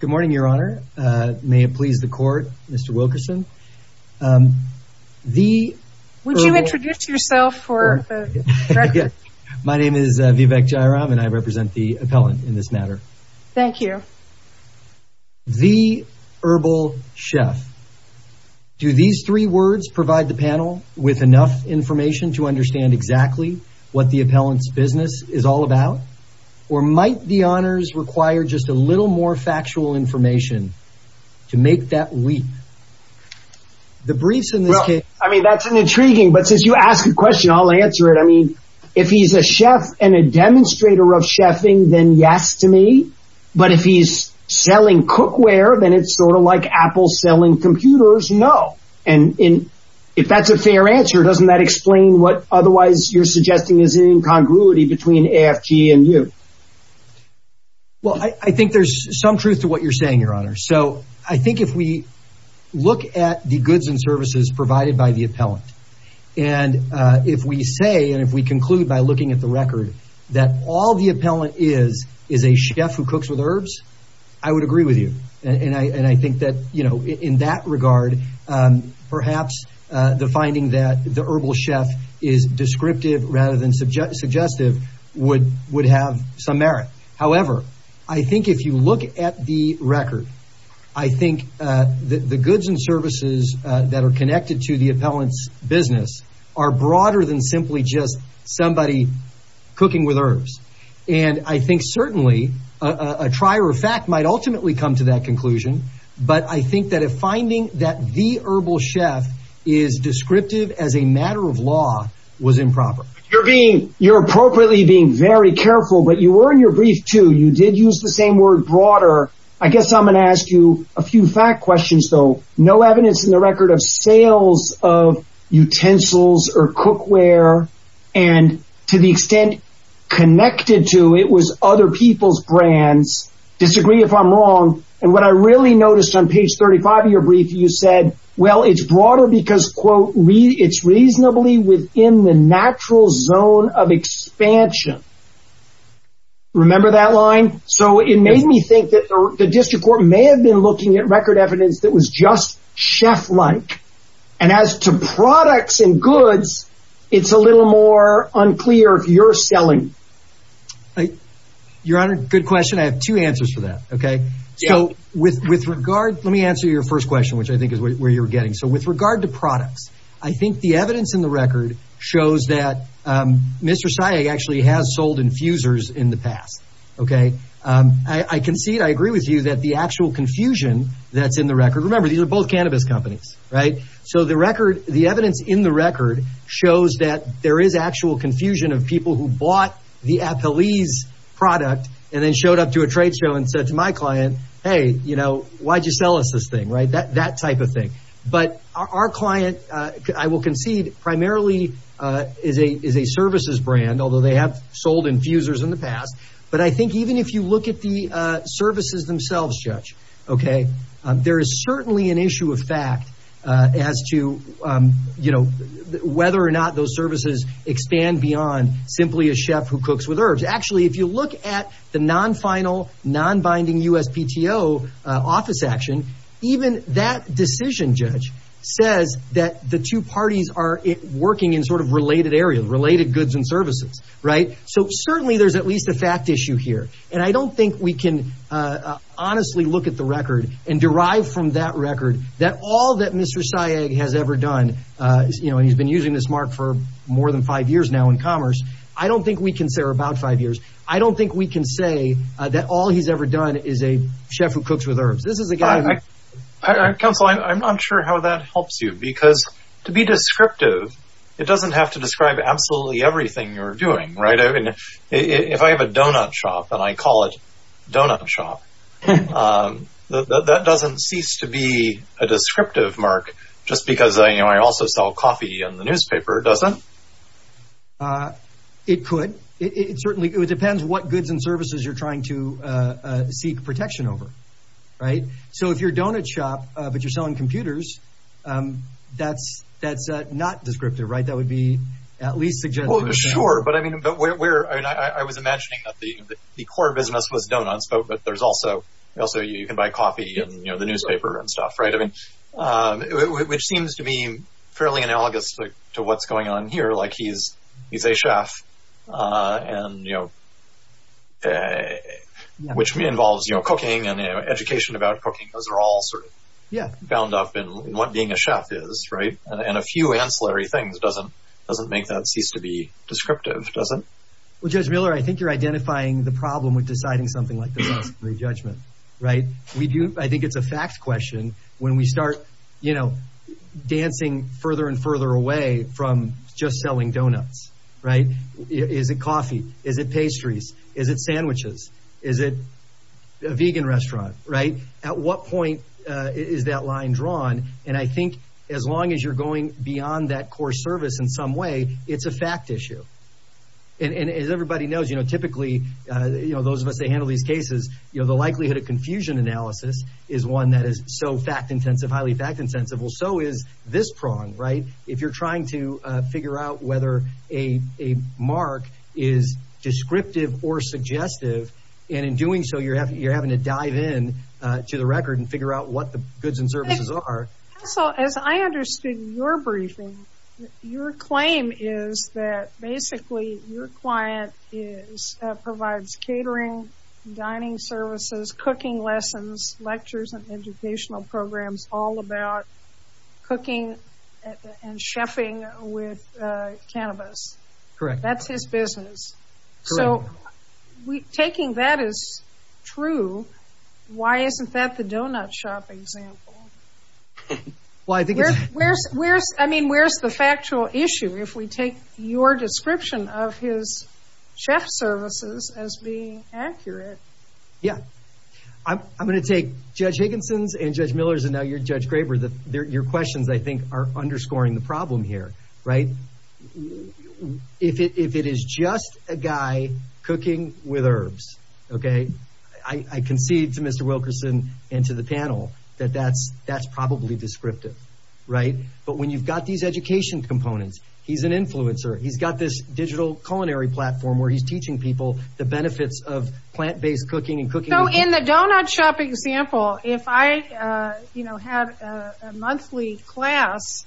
Good morning, Your Honor. May it please the Court, Mr. Wilkerson. Would you introduce yourself for the record? My name is Vivek Jayaram and I represent the appellant in this matter. Thank you. The Herbal Chef. Do these three words provide the panel with enough information to understand exactly what the appellant's business is all about? Or might the honors require just a little more factual information to make that leap? The briefs in this case... Well, I mean, that's an intriguing, but since you asked the question, I'll answer it. I mean, if he's a chef and a demonstrator of chefing, then yes to me. But if he's selling cookware, then it's sort of like Apple selling computers. No. If that's a fair answer, doesn't that explain what otherwise you're suggesting is incongruity between AFG and you? Well, I think there's some truth to what you're saying, Your Honor. So I think if we look at the goods and services provided by the appellant, and if we say and if we conclude by looking at the record that all the appellant is is a chef who cooks with herbs, I would agree with you. And I think that in that regard, perhaps the finding that the herbal chef is descriptive rather than suggestive would have some merit. However, I think if you look at the record, I think the goods and services that are connected to the appellant's business are broader than simply just somebody cooking with herbs. And I think certainly a trier of fact might ultimately come to that conclusion. But I think that a finding that the herbal chef is descriptive as a matter of law was improper. You're being you're appropriately being very careful, but you were in your brief, too. You did use the same word broader. I guess I'm going to ask you a few fact questions, though. No evidence in the record of sales of utensils or cookware. And to the extent connected to it was other people's brands. Disagree if I'm wrong. And what I really noticed on page 35 of your brief, you said, well, it's broader because, quote, it's reasonably within the natural zone of expansion. Remember that line? So it made me think that the district court may have been looking at record evidence that was just chef like. And as to products and goods, it's a little more unclear if you're selling. Your Honor, good question. I have two answers for that. OK, so with with regard, let me answer your first question, which I think is where you're getting. So with regard to products, I think the evidence in the record shows that Mr. Actually has sold infusers in the past. OK, I can see it. I agree with you that the actual confusion that's in the record. Remember, these are both cannabis companies. Right. So the record, the evidence in the record shows that there is actual confusion of people who bought the Apple's product and then showed up to a trade show and said to my client, hey, you know, why did you sell us this thing? Right. That type of thing. But our client, I will concede, primarily is a is a services brand, although they have sold infusers in the past. But I think even if you look at the services themselves, Judge, OK, there is certainly an issue of fact as to, you know, whether or not those services expand beyond simply a chef who cooks with herbs. Actually, if you look at the non-final, non-binding USPTO office action, even that decision, Judge, says that the two parties are working in sort of related areas, related goods and services. Right. So certainly there's at least a fact issue here. And I don't think we can honestly look at the record and derive from that record that all that Mr. Sayeg has ever done, you know, and he's been using this mark for more than five years now in commerce. I don't think we can say we're about five years. I don't think we can say that all he's ever done is a chef who cooks with herbs. This is a guy. Counsel, I'm not sure how that helps you, because to be descriptive, it doesn't have to describe absolutely everything you're doing. If I have a donut shop and I call it donut shop, that doesn't cease to be a descriptive mark just because I also sell coffee in the newspaper, does it? It could. It certainly depends what goods and services you're trying to seek protection over. Right. So if you're donut shop but you're selling computers, that's not descriptive. Right. That would be at least suggestive. Sure. I was imagining that the core business was donuts, but also you can buy coffee in the newspaper and stuff, right? Which seems to be fairly analogous to what's going on here, like he's a chef, which involves cooking and education about cooking. Those are all sort of bound up in what being a chef is, right? And a few ancillary things doesn't make that cease to be descriptive, does it? Well, Judge Miller, I think you're identifying the problem with deciding something like this. That's the judgment, right? I think it's a fact question when we start dancing further and further away from just selling donuts, right? Is it coffee? Is it pastries? Is it sandwiches? Is it a vegan restaurant, right? At what point is that line drawn? And I think as long as you're going beyond that core service in some way, it's a fact issue. And as everybody knows, typically, those of us that handle these cases, the likelihood of confusion analysis is one that is so fact intensive, highly fact intensive. Well, so is this prong, right? If you're trying to figure out whether a mark is descriptive or suggestive, and in doing so, you're having to dive in to the record and figure out what the goods and services are. So as I understood your briefing, your claim is that basically your client provides catering, dining services, cooking lessons, lectures and educational programs all about cooking and chefing with cannabis. Correct. That's his business. Correct. So taking that as true, why isn't that the donut shop example? I mean, where's the factual issue if we take your description of his chef services as being accurate? Yeah. I'm going to take Judge Higginson's and Judge Miller's, and now you're Judge Graber. Your questions, I think, are underscoring the problem here, right? If it is just a guy cooking with herbs, okay? I concede to Mr. Wilkerson and to the panel that that's probably descriptive, right? But when you've got these education components, he's an influencer. He's got this digital culinary platform where he's teaching people the benefits of plant-based cooking and cooking. So in the donut shop example, if I had a monthly class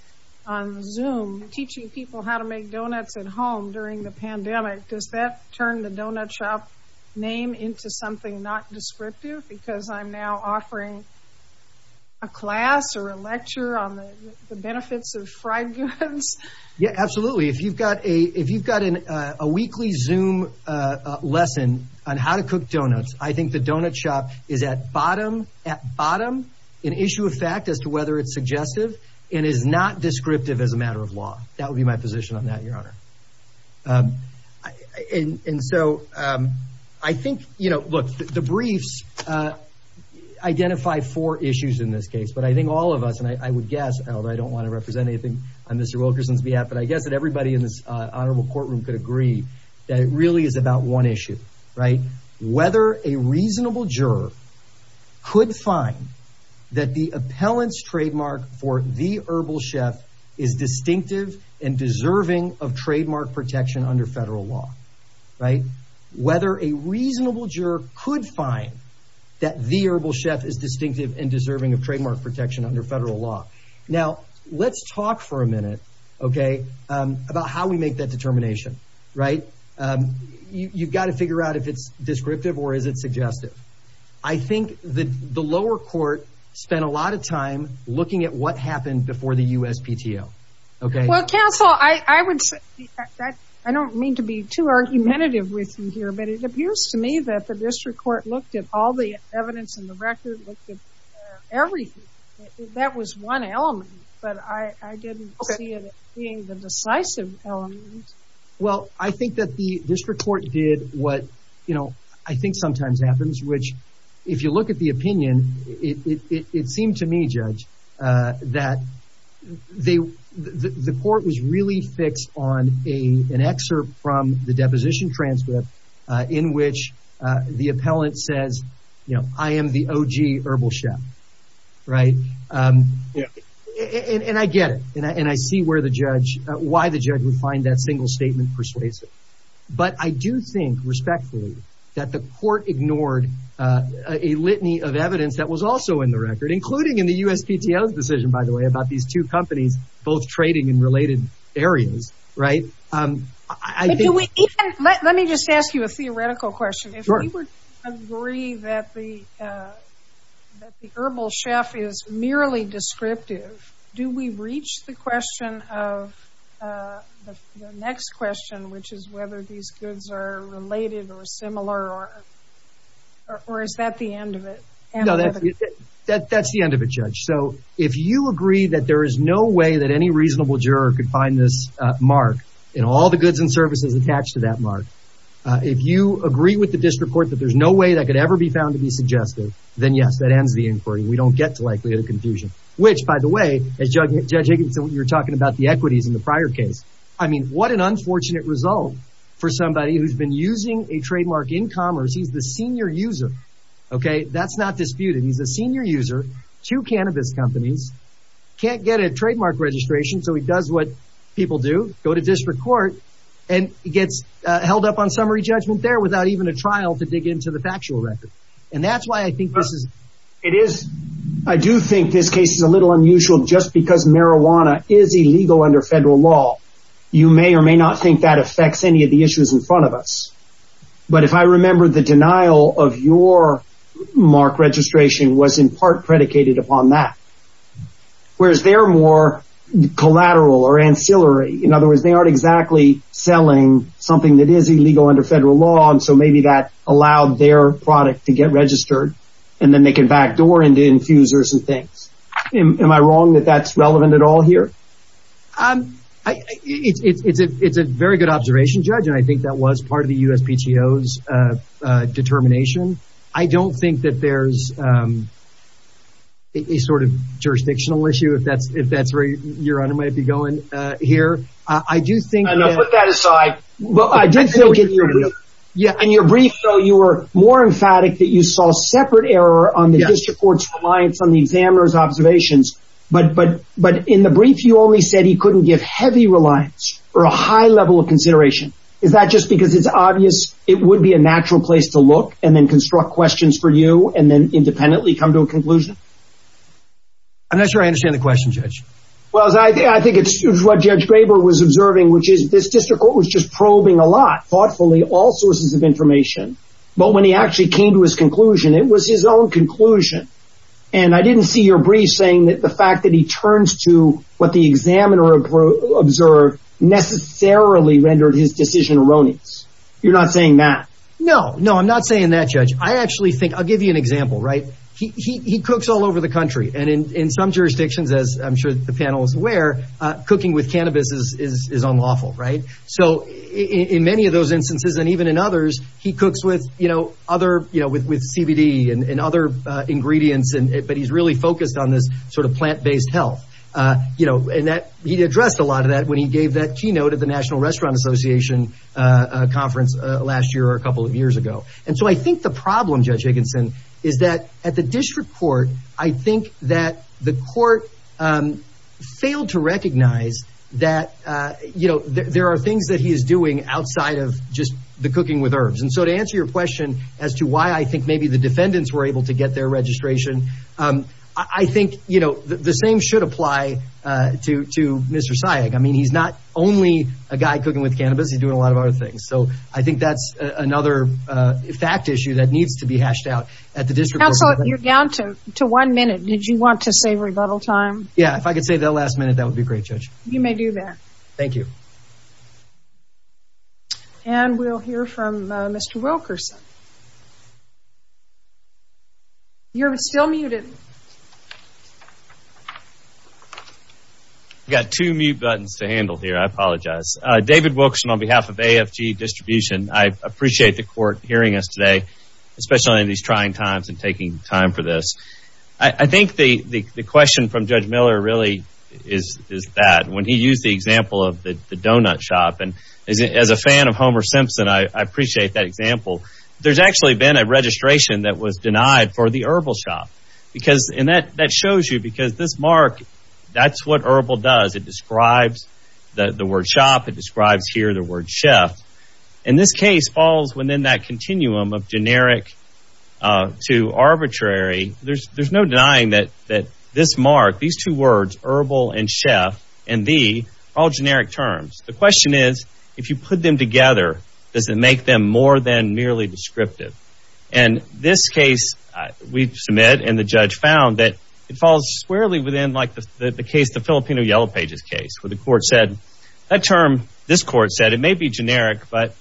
on Zoom teaching people how to make donuts at home during the pandemic, does that turn the donut shop name into something not descriptive? Because I'm now offering a class or a lecture on the benefits of fried goods? Yeah, absolutely. If you've got a weekly Zoom lesson on how to cook donuts, I think the donut shop is at bottom, at bottom, an issue of fact as to whether it's suggestive and is not descriptive as a matter of law. That would be my position on that, Your Honor. And so I think, you know, look, the briefs identify four issues in this case. But I think all of us, and I would guess, although I don't want to represent anything on Mr. Wilkerson's behalf, but I guess that everybody in this honorable courtroom could agree that it really is about one issue, right? Whether a reasonable juror could find that the appellant's trademark for the herbal chef is distinctive and deserving of trademark protection under federal law, right? Now, let's talk for a minute, okay, about how we make that determination, right? You've got to figure out if it's descriptive or is it suggestive? I think that the lower court spent a lot of time looking at what happened before the USPTO, okay? Well, counsel, I would say, I don't mean to be too argumentative with you here, but it appears to me that the district court looked at all the evidence in the record, looked at everything. That was one element, but I didn't see it being the decisive element. Well, I think that the district court did what, you know, I think sometimes happens, which, if you look at the opinion, it seemed to me, Judge, that the court was really fixed on an excerpt from the deposition transcript in which the appellant says, you know, I am the OG herbal chef, right? And I get it, and I see where the judge, why the judge would find that single statement persuasive. But I do think, respectfully, that the court ignored a litany of evidence that was also in the record, including in the USPTO's decision, by the way, about these two companies both trading in related areas, right? Let me just ask you a theoretical question. If we would agree that the herbal chef is merely descriptive, do we reach the question of the next question, which is whether these goods are related or similar, or is that the end of it? No, that's the end of it, Judge. So if you agree that there is no way that any reasonable juror could find this mark and all the goods and services attached to that mark, if you agree with the district court that there's no way that could ever be found to be suggestive, then yes, that ends the inquiry. We don't get to likelihood of confusion, which, by the way, as Judge Higginson, you were talking about the equities in the prior case. I mean, what an unfortunate result for somebody who's been using a trademark in commerce. He's the senior user, okay? That's not disputed. He's a senior user, two cannabis companies, can't get a trademark registration, so he does what people do, go to district court, and gets held up on summary judgment there without even a trial to dig into the factual record. And that's why I think this is... It is. I do think this case is a little unusual just because marijuana is illegal under federal law. You may or may not think that affects any of the issues in front of us. But if I remember, the denial of your mark registration was in part predicated upon that, whereas they're more collateral or ancillary. In other words, they aren't exactly selling something that is illegal under federal law, and so maybe that allowed their product to get registered, and then they can backdoor into infusers and things. Am I wrong that that's relevant at all here? It's a very good observation, Judge, and I think that was part of the USPTO's determination. I don't think that there's a sort of jurisdictional issue, if that's where your honor might be going here. I do think that... No, put that aside. Well, I did think in your brief... Yeah. In your brief, though, you were more emphatic that you saw a separate error on the district court's reliance on the examiner's observations. But in the brief, you only said he couldn't give heavy reliance or a high level of consideration. Is that just because it's obvious it would be a natural place to look and then construct questions for you and then independently come to a conclusion? I'm not sure I understand the question, Judge. Well, I think it's what Judge Graber was observing, which is this district court was just probing a lot, thoughtfully, all sources of information. But when he actually came to his conclusion, it was his own conclusion. And I didn't see your brief saying that the fact that he turns to what the examiner observed necessarily rendered his decision erroneous. You're not saying that? No, no, I'm not saying that, Judge. I actually think... I'll give you an example, right? He cooks all over the country. And in some jurisdictions, as I'm sure the panel is aware, cooking with cannabis is unlawful, right? So in many of those instances and even in others, he cooks with CBD and other ingredients, but he's really focused on this sort of plant-based health. And he addressed a lot of that when he gave that keynote at the National Restaurant Association conference last year or a couple of years ago. And so I think the problem, Judge Higginson, is that at the district court, I think that the court failed to recognize that there are things that he is doing outside of just the cooking with herbs. And so to answer your question as to why I think maybe the defendants were able to get their registration, I think the same should apply to Mr. Sayegh. I mean, he's not only a guy cooking with cannabis. He's doing a lot of other things. So I think that's another fact issue that needs to be hashed out at the district court. Counselor, you're down to one minute. Did you want to save rebuttal time? Yeah, if I could save that last minute, that would be great, Judge. You may do that. Thank you. And we'll hear from Mr. Wilkerson. You're still muted. I've got two mute buttons to handle here. I apologize. David Wilkerson on behalf of AFG Distribution. I appreciate the court hearing us today, especially in these trying times and taking time for this. I think the question from Judge Miller really is that when he used the example of the donut shop, and as a fan of Homer Simpson, I appreciate that example. There's actually been a registration that was denied for the herbal shop. And that shows you because this mark, that's what herbal does. It describes the word shop. It describes here the word chef. And this case falls within that continuum of generic to arbitrary. There's no denying that this mark, these two words, herbal and chef, and the, are all generic terms. The question is, if you put them together, does it make them more than merely descriptive? And this case, we submit, and the judge found that it falls squarely within like the case, the Filipino Yellow Pages case, where the court said, that term, this court said, it may be generic, but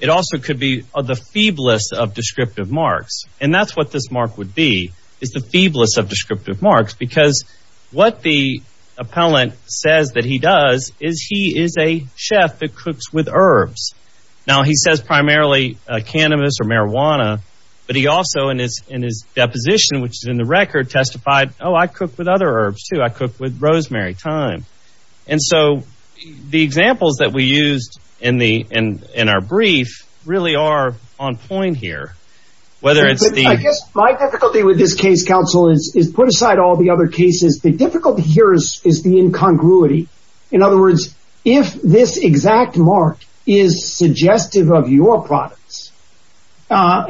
it also could be the feeblest of descriptive marks. And that's what this mark would be, is the feeblest of descriptive marks. Because what the appellant says that he does is he is a chef that cooks with herbs. Now, he says primarily cannabis or marijuana, but he also, in his deposition, which is in the record, testified, oh, I cook with other herbs, too. I cook with rosemary, thyme. And so the examples that we used in our brief really are on point here. Whether it's the... I guess my difficulty with this case, counsel, is put aside all the other cases. The difficulty here is the incongruity. In other words, if this exact mark is suggestive of your products, I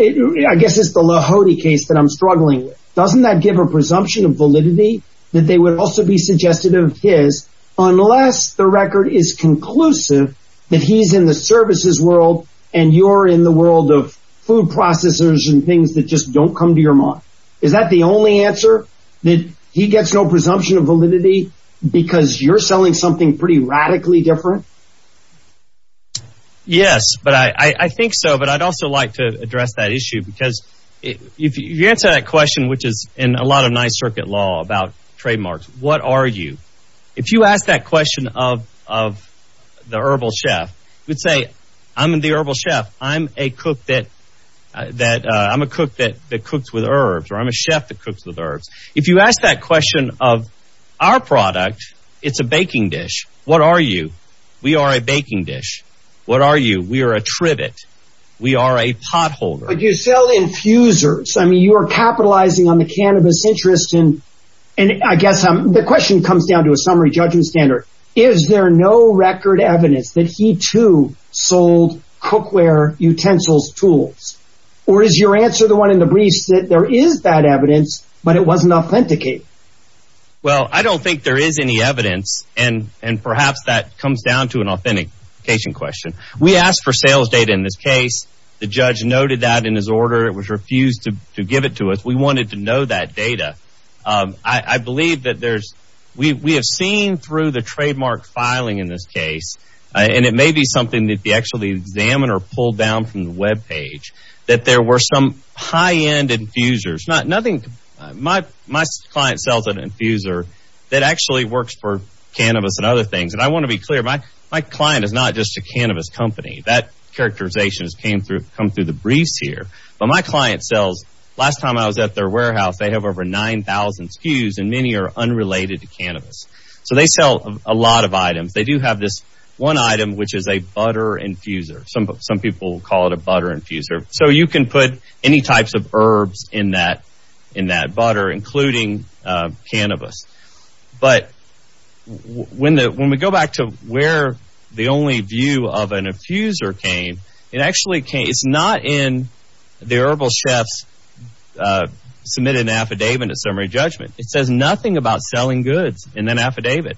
guess it's the Lahoti case that I'm struggling with. Doesn't that give a presumption of validity that they would also be suggestive of his, unless the record is conclusive that he's in the services world and you're in the world of food processors and things that just don't come to your mind? Is that the only answer? That he gets no presumption of validity because you're selling something pretty radically different? Yes, but I think so. But I'd also like to address that issue because if you answer that question, which is in a lot of Ninth Circuit law about trademarks, what are you? If you ask that question of the herbal chef, you'd say, I'm the herbal chef. I'm a cook that cooks with herbs or I'm a chef that cooks with herbs. If you ask that question of our product, it's a baking dish. What are you? We are a baking dish. What are you? We are a trivet. We are a potholder. But you sell infusers. I mean, you are capitalizing on the cannabis interest. And I guess the question comes down to a summary judgment standard. Is there no record evidence that he, too, sold cookware, utensils, tools? Or is your answer the one in the briefs that there is that evidence, but it wasn't authenticated? Well, I don't think there is any evidence. And perhaps that comes down to an authentication question. We asked for sales data in this case. The judge noted that in his order. It was refused to give it to us. We wanted to know that data. I believe that there's, we have seen through the trademark filing in this case. And it may be something that the examiner pulled down from the webpage. That there were some high-end infusers. My client sells an infuser that actually works for cannabis and other things. And I want to be clear. My client is not just a cannabis company. That characterization has come through the briefs here. But my client sells, last time I was at their warehouse, they have over 9,000 SKUs. And many are unrelated to cannabis. So they sell a lot of items. They do have this one item, which is a butter infuser. Some people call it a butter infuser. So you can put any types of herbs in that butter, including cannabis. But when we go back to where the only view of an infuser came. It actually came, it's not in the herbal chef's submitted affidavit in summary judgment. It says nothing about selling goods in that affidavit.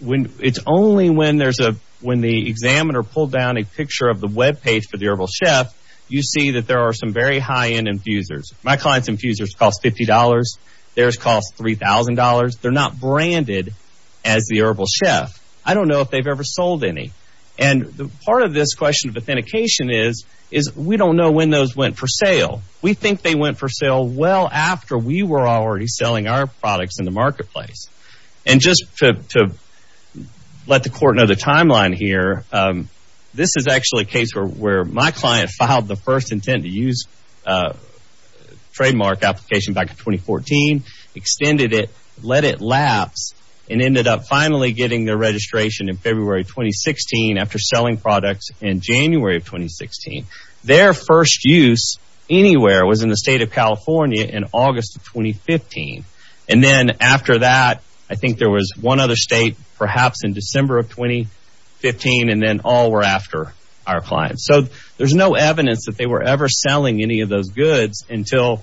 It's only when there's a, when the examiner pulled down a picture of the webpage for the herbal chef. You see that there are some very high-end infusers. My client's infusers cost $50. Theirs cost $3,000. They're not branded as the herbal chef. I don't know if they've ever sold any. And part of this question of authentication is, we don't know when those went for sale. We think they went for sale well after we were already selling our products in the marketplace. And just to let the court know the timeline here. This is actually a case where my client filed the first intent to use trademark application back in 2014. Extended it, let it lapse, and ended up finally getting their registration in February 2016. After selling products in January of 2016. Their first use anywhere was in the state of California in August of 2015. And then after that, I think there was one other state perhaps in December of 2015. And then all were after our clients. So there's no evidence that they were ever selling any of those goods until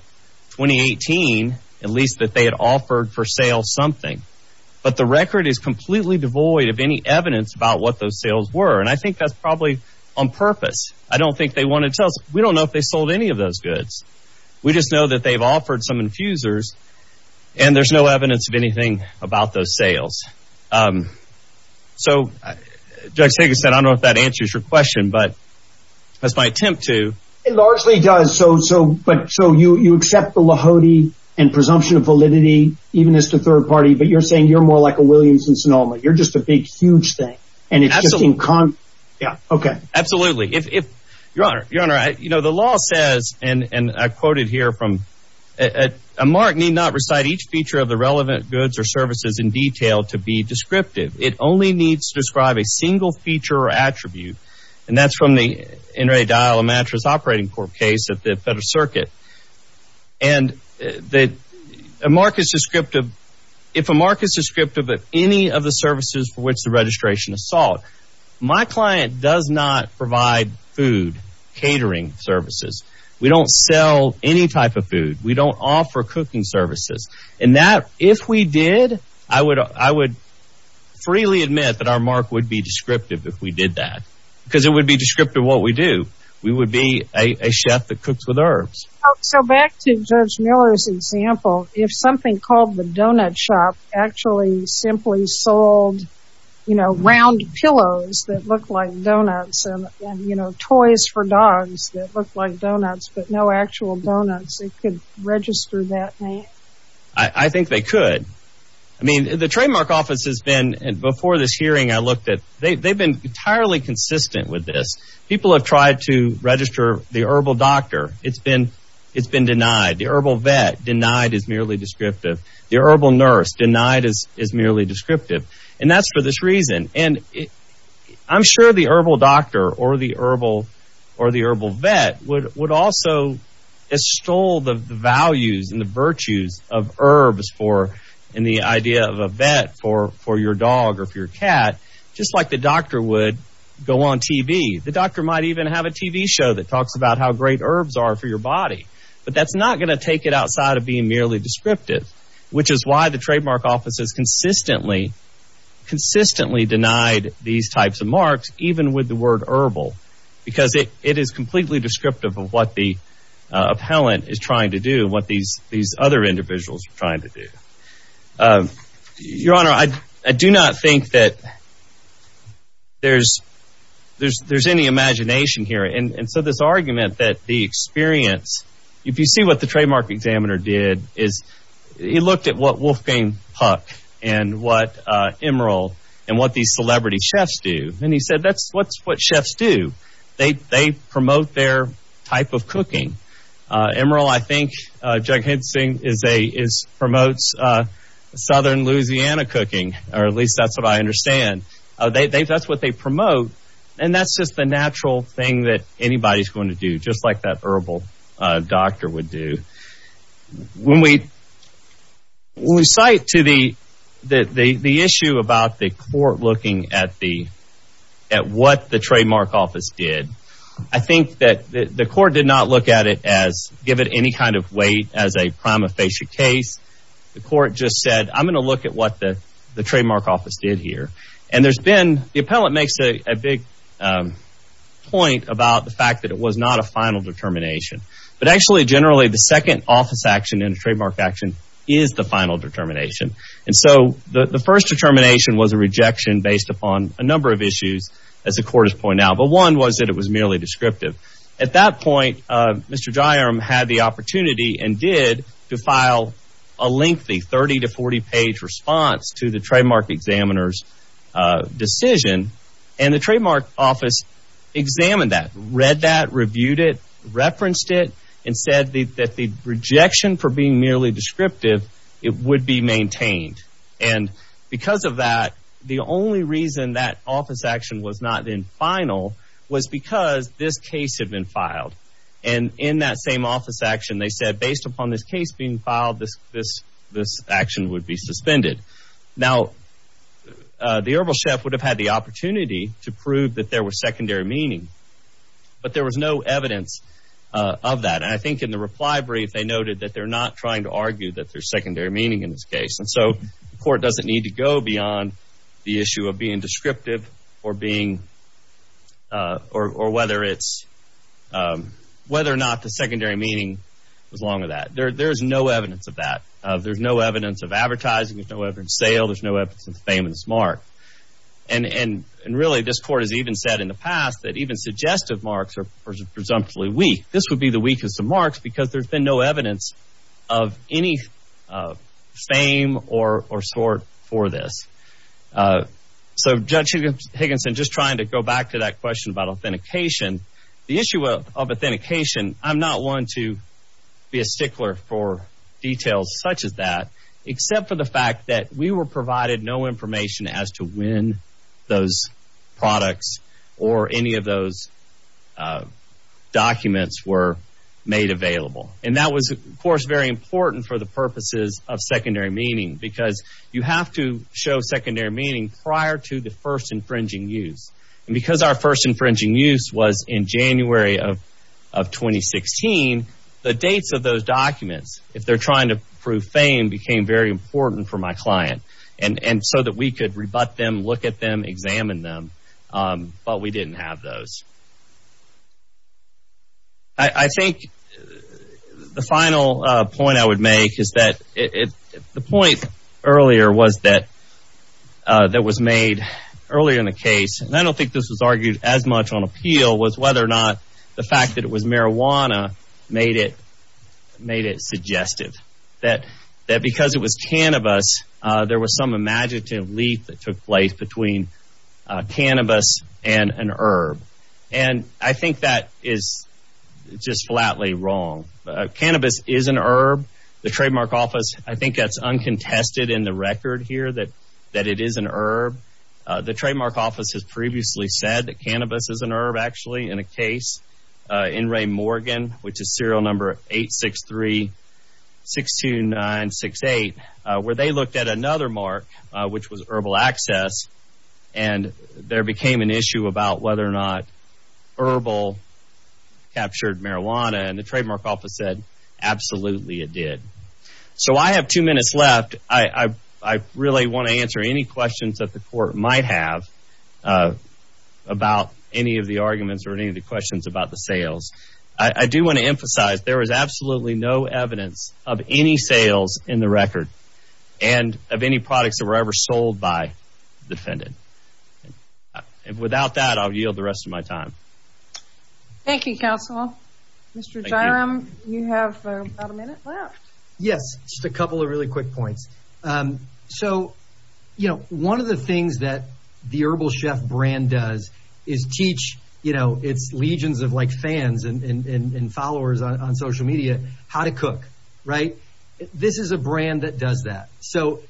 2018. At least that they had offered for sale something. But the record is completely devoid of any evidence about what those sales were. And I think that's probably on purpose. I don't think they want to tell us. We don't know if they sold any of those goods. We just know that they've offered some infusers. And there's no evidence of anything about those sales. So Judge Sagan said, I don't know if that answers your question. But that's my attempt to... It largely does. So you accept the Lahoti and presumption of validity, even as the third party. But you're saying you're more like a Williamson Sonoma. You're just a big huge thing. And it's just in... Absolutely. Your Honor, the law says, and I quoted here from... A mark need not recite each feature of the relevant goods or services in detail to be descriptive. It only needs to describe a single feature or attribute. And that's from the in ready dial a mattress operating court case at the Federal Circuit. And a mark is descriptive... If a mark is descriptive of any of the services for which the registration is solved. My client does not provide food, catering services. We don't sell any type of food. We don't offer cooking services. And that, if we did, I would freely admit that our mark would be descriptive if we did that. Because it would be descriptive of what we do. We would be a chef that cooks with herbs. So back to Judge Miller's example. If something called the donut shop actually simply sold round pillows that look like donuts. And toys for dogs that look like donuts. But no actual donuts. It could register that name. I think they could. I mean, the trademark office has been... Before this hearing, I looked at... They've been entirely consistent with this. People have tried to register the herbal doctor. It's been denied. The herbal vet denied is merely descriptive. The herbal nurse denied is merely descriptive. And that's for this reason. I'm sure the herbal doctor or the herbal vet would also extol the values and the virtues of herbs. And the idea of a vet for your dog or for your cat. Just like the doctor would go on TV. The doctor might even have a TV show that talks about how great herbs are for your body. But that's not going to take it outside of being merely descriptive. Which is why the trademark office has consistently denied these types of marks. Even with the word herbal. Because it is completely descriptive of what the appellant is trying to do. What these other individuals are trying to do. Your honor, I do not think that there's any imagination here. And so this argument that the experience... If you see what the trademark examiner did. He looked at what Wolfgang Puck and what Emeril and what these celebrity chefs do. And he said that's what chefs do. They promote their type of cooking. Emeril I think promotes southern Louisiana cooking. Or at least that's what I understand. That's what they promote. And that's just the natural thing that anybody's going to do. Just like that herbal doctor would do. When we cite to the issue about the court looking at what the trademark office did. I think that the court did not look at it as... Give it any kind of weight as a prima facie case. The court just said I'm going to look at what the trademark office did here. And there's been... The appellant makes a big point about the fact that it was not a final determination. But actually generally the second office action in a trademark action is the final determination. And so the first determination was a rejection based upon a number of issues. As the court has pointed out. But one was that it was merely descriptive. At that point Mr. Dryarm had the opportunity and did. To file a lengthy 30 to 40 page response to the trademark examiner's decision. And the trademark office examined that. Read that. Reviewed it. Referenced it. And said that the rejection for being merely descriptive. It would be maintained. And because of that the only reason that office action was not in final. Was because this case had been filed. And in that same office action they said based upon this case being filed. This action would be suspended. Now the herbal chef would have had the opportunity to prove that there was secondary meaning. But there was no evidence of that. And I think in the reply brief they noted that they're not trying to argue. That there's secondary meaning in this case. And so the court doesn't need to go beyond the issue of being descriptive. Or being or whether it's whether or not the secondary meaning was along with that. There's no evidence of that. There's no evidence of advertising. There's no evidence of sale. There's no evidence of famous mark. And really this court has even said in the past. That even suggestive marks are presumptively weak. This would be the weakest of marks. Because there's been no evidence of any fame or sort for this. So Judge Higginson just trying to go back to that question about authentication. The issue of authentication. I'm not one to be a stickler for details such as that. Except for the fact that we were provided no information as to when those products. Or any of those documents were made available. And that was of course very important for the purposes of secondary meaning. Because you have to show secondary meaning prior to the first infringing use. And because our first infringing use was in January of 2016. The dates of those documents. If they're trying to prove fame became very important for my client. And so that we could rebut them, look at them, examine them. But we didn't have those. I think the final point I would make is that. The point earlier was that. That was made earlier in the case. And I don't think this was argued as much on appeal. Was whether or not the fact that it was marijuana made it suggestive. That because it was cannabis. There was some imaginative leap that took place between cannabis and an herb. And I think that is just flatly wrong. Cannabis is an herb. The trademark office, I think that's uncontested in the record here. That it is an herb. The trademark office has previously said that cannabis is an herb. Actually in a case in Ray Morgan. Which is serial number 863-629-68. Where they looked at another mark. Which was herbal access. And there became an issue about whether or not herbal captured marijuana. And the trademark office said absolutely it did. So I have two minutes left. I really want to answer any questions that the court might have. About any of the arguments or any of the questions about the sales. I do want to emphasize there is absolutely no evidence of any sales in the record. And of any products that were ever sold by the defendant. Without that, I will yield the rest of my time. Thank you counsel. Mr. Jyram, you have about a minute left. Yes, just a couple of really quick points. So, you know, one of the things that the Herbal Chef brand does. Is teach, you know, it's legions of like fans and followers on social media. How to cook, right? This is a brand that does that. So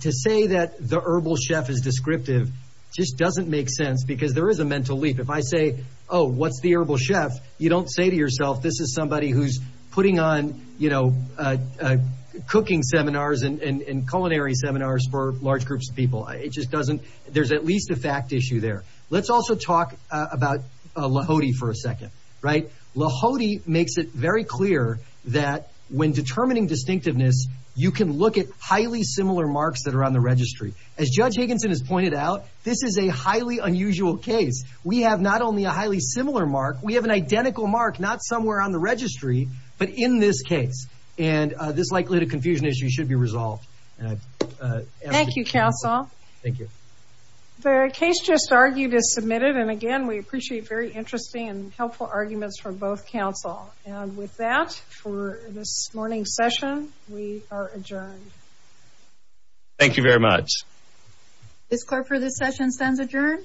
to say that the Herbal Chef is descriptive. Just doesn't make sense. Because there is a mental leap. If I say, oh, what's the Herbal Chef? You don't say to yourself, this is somebody who's putting on, you know. Cooking seminars and culinary seminars for large groups of people. It just doesn't. There's at least a fact issue there. Let's also talk about Lahoti for a second, right? Lahoti makes it very clear that when determining distinctiveness. You can look at highly similar marks that are on the registry. As Judge Higginson has pointed out. This is a highly unusual case. We have not only a highly similar mark. We have an identical mark. Not somewhere on the registry. But in this case. And this likelihood of confusion issue should be resolved. Thank you counsel. Thank you. The case just argued is submitted. And again, we appreciate very interesting and helpful arguments from both counsel. And with that, for this morning's session. We are adjourned. Thank you very much. Ms. Clarper, this session stands adjourned.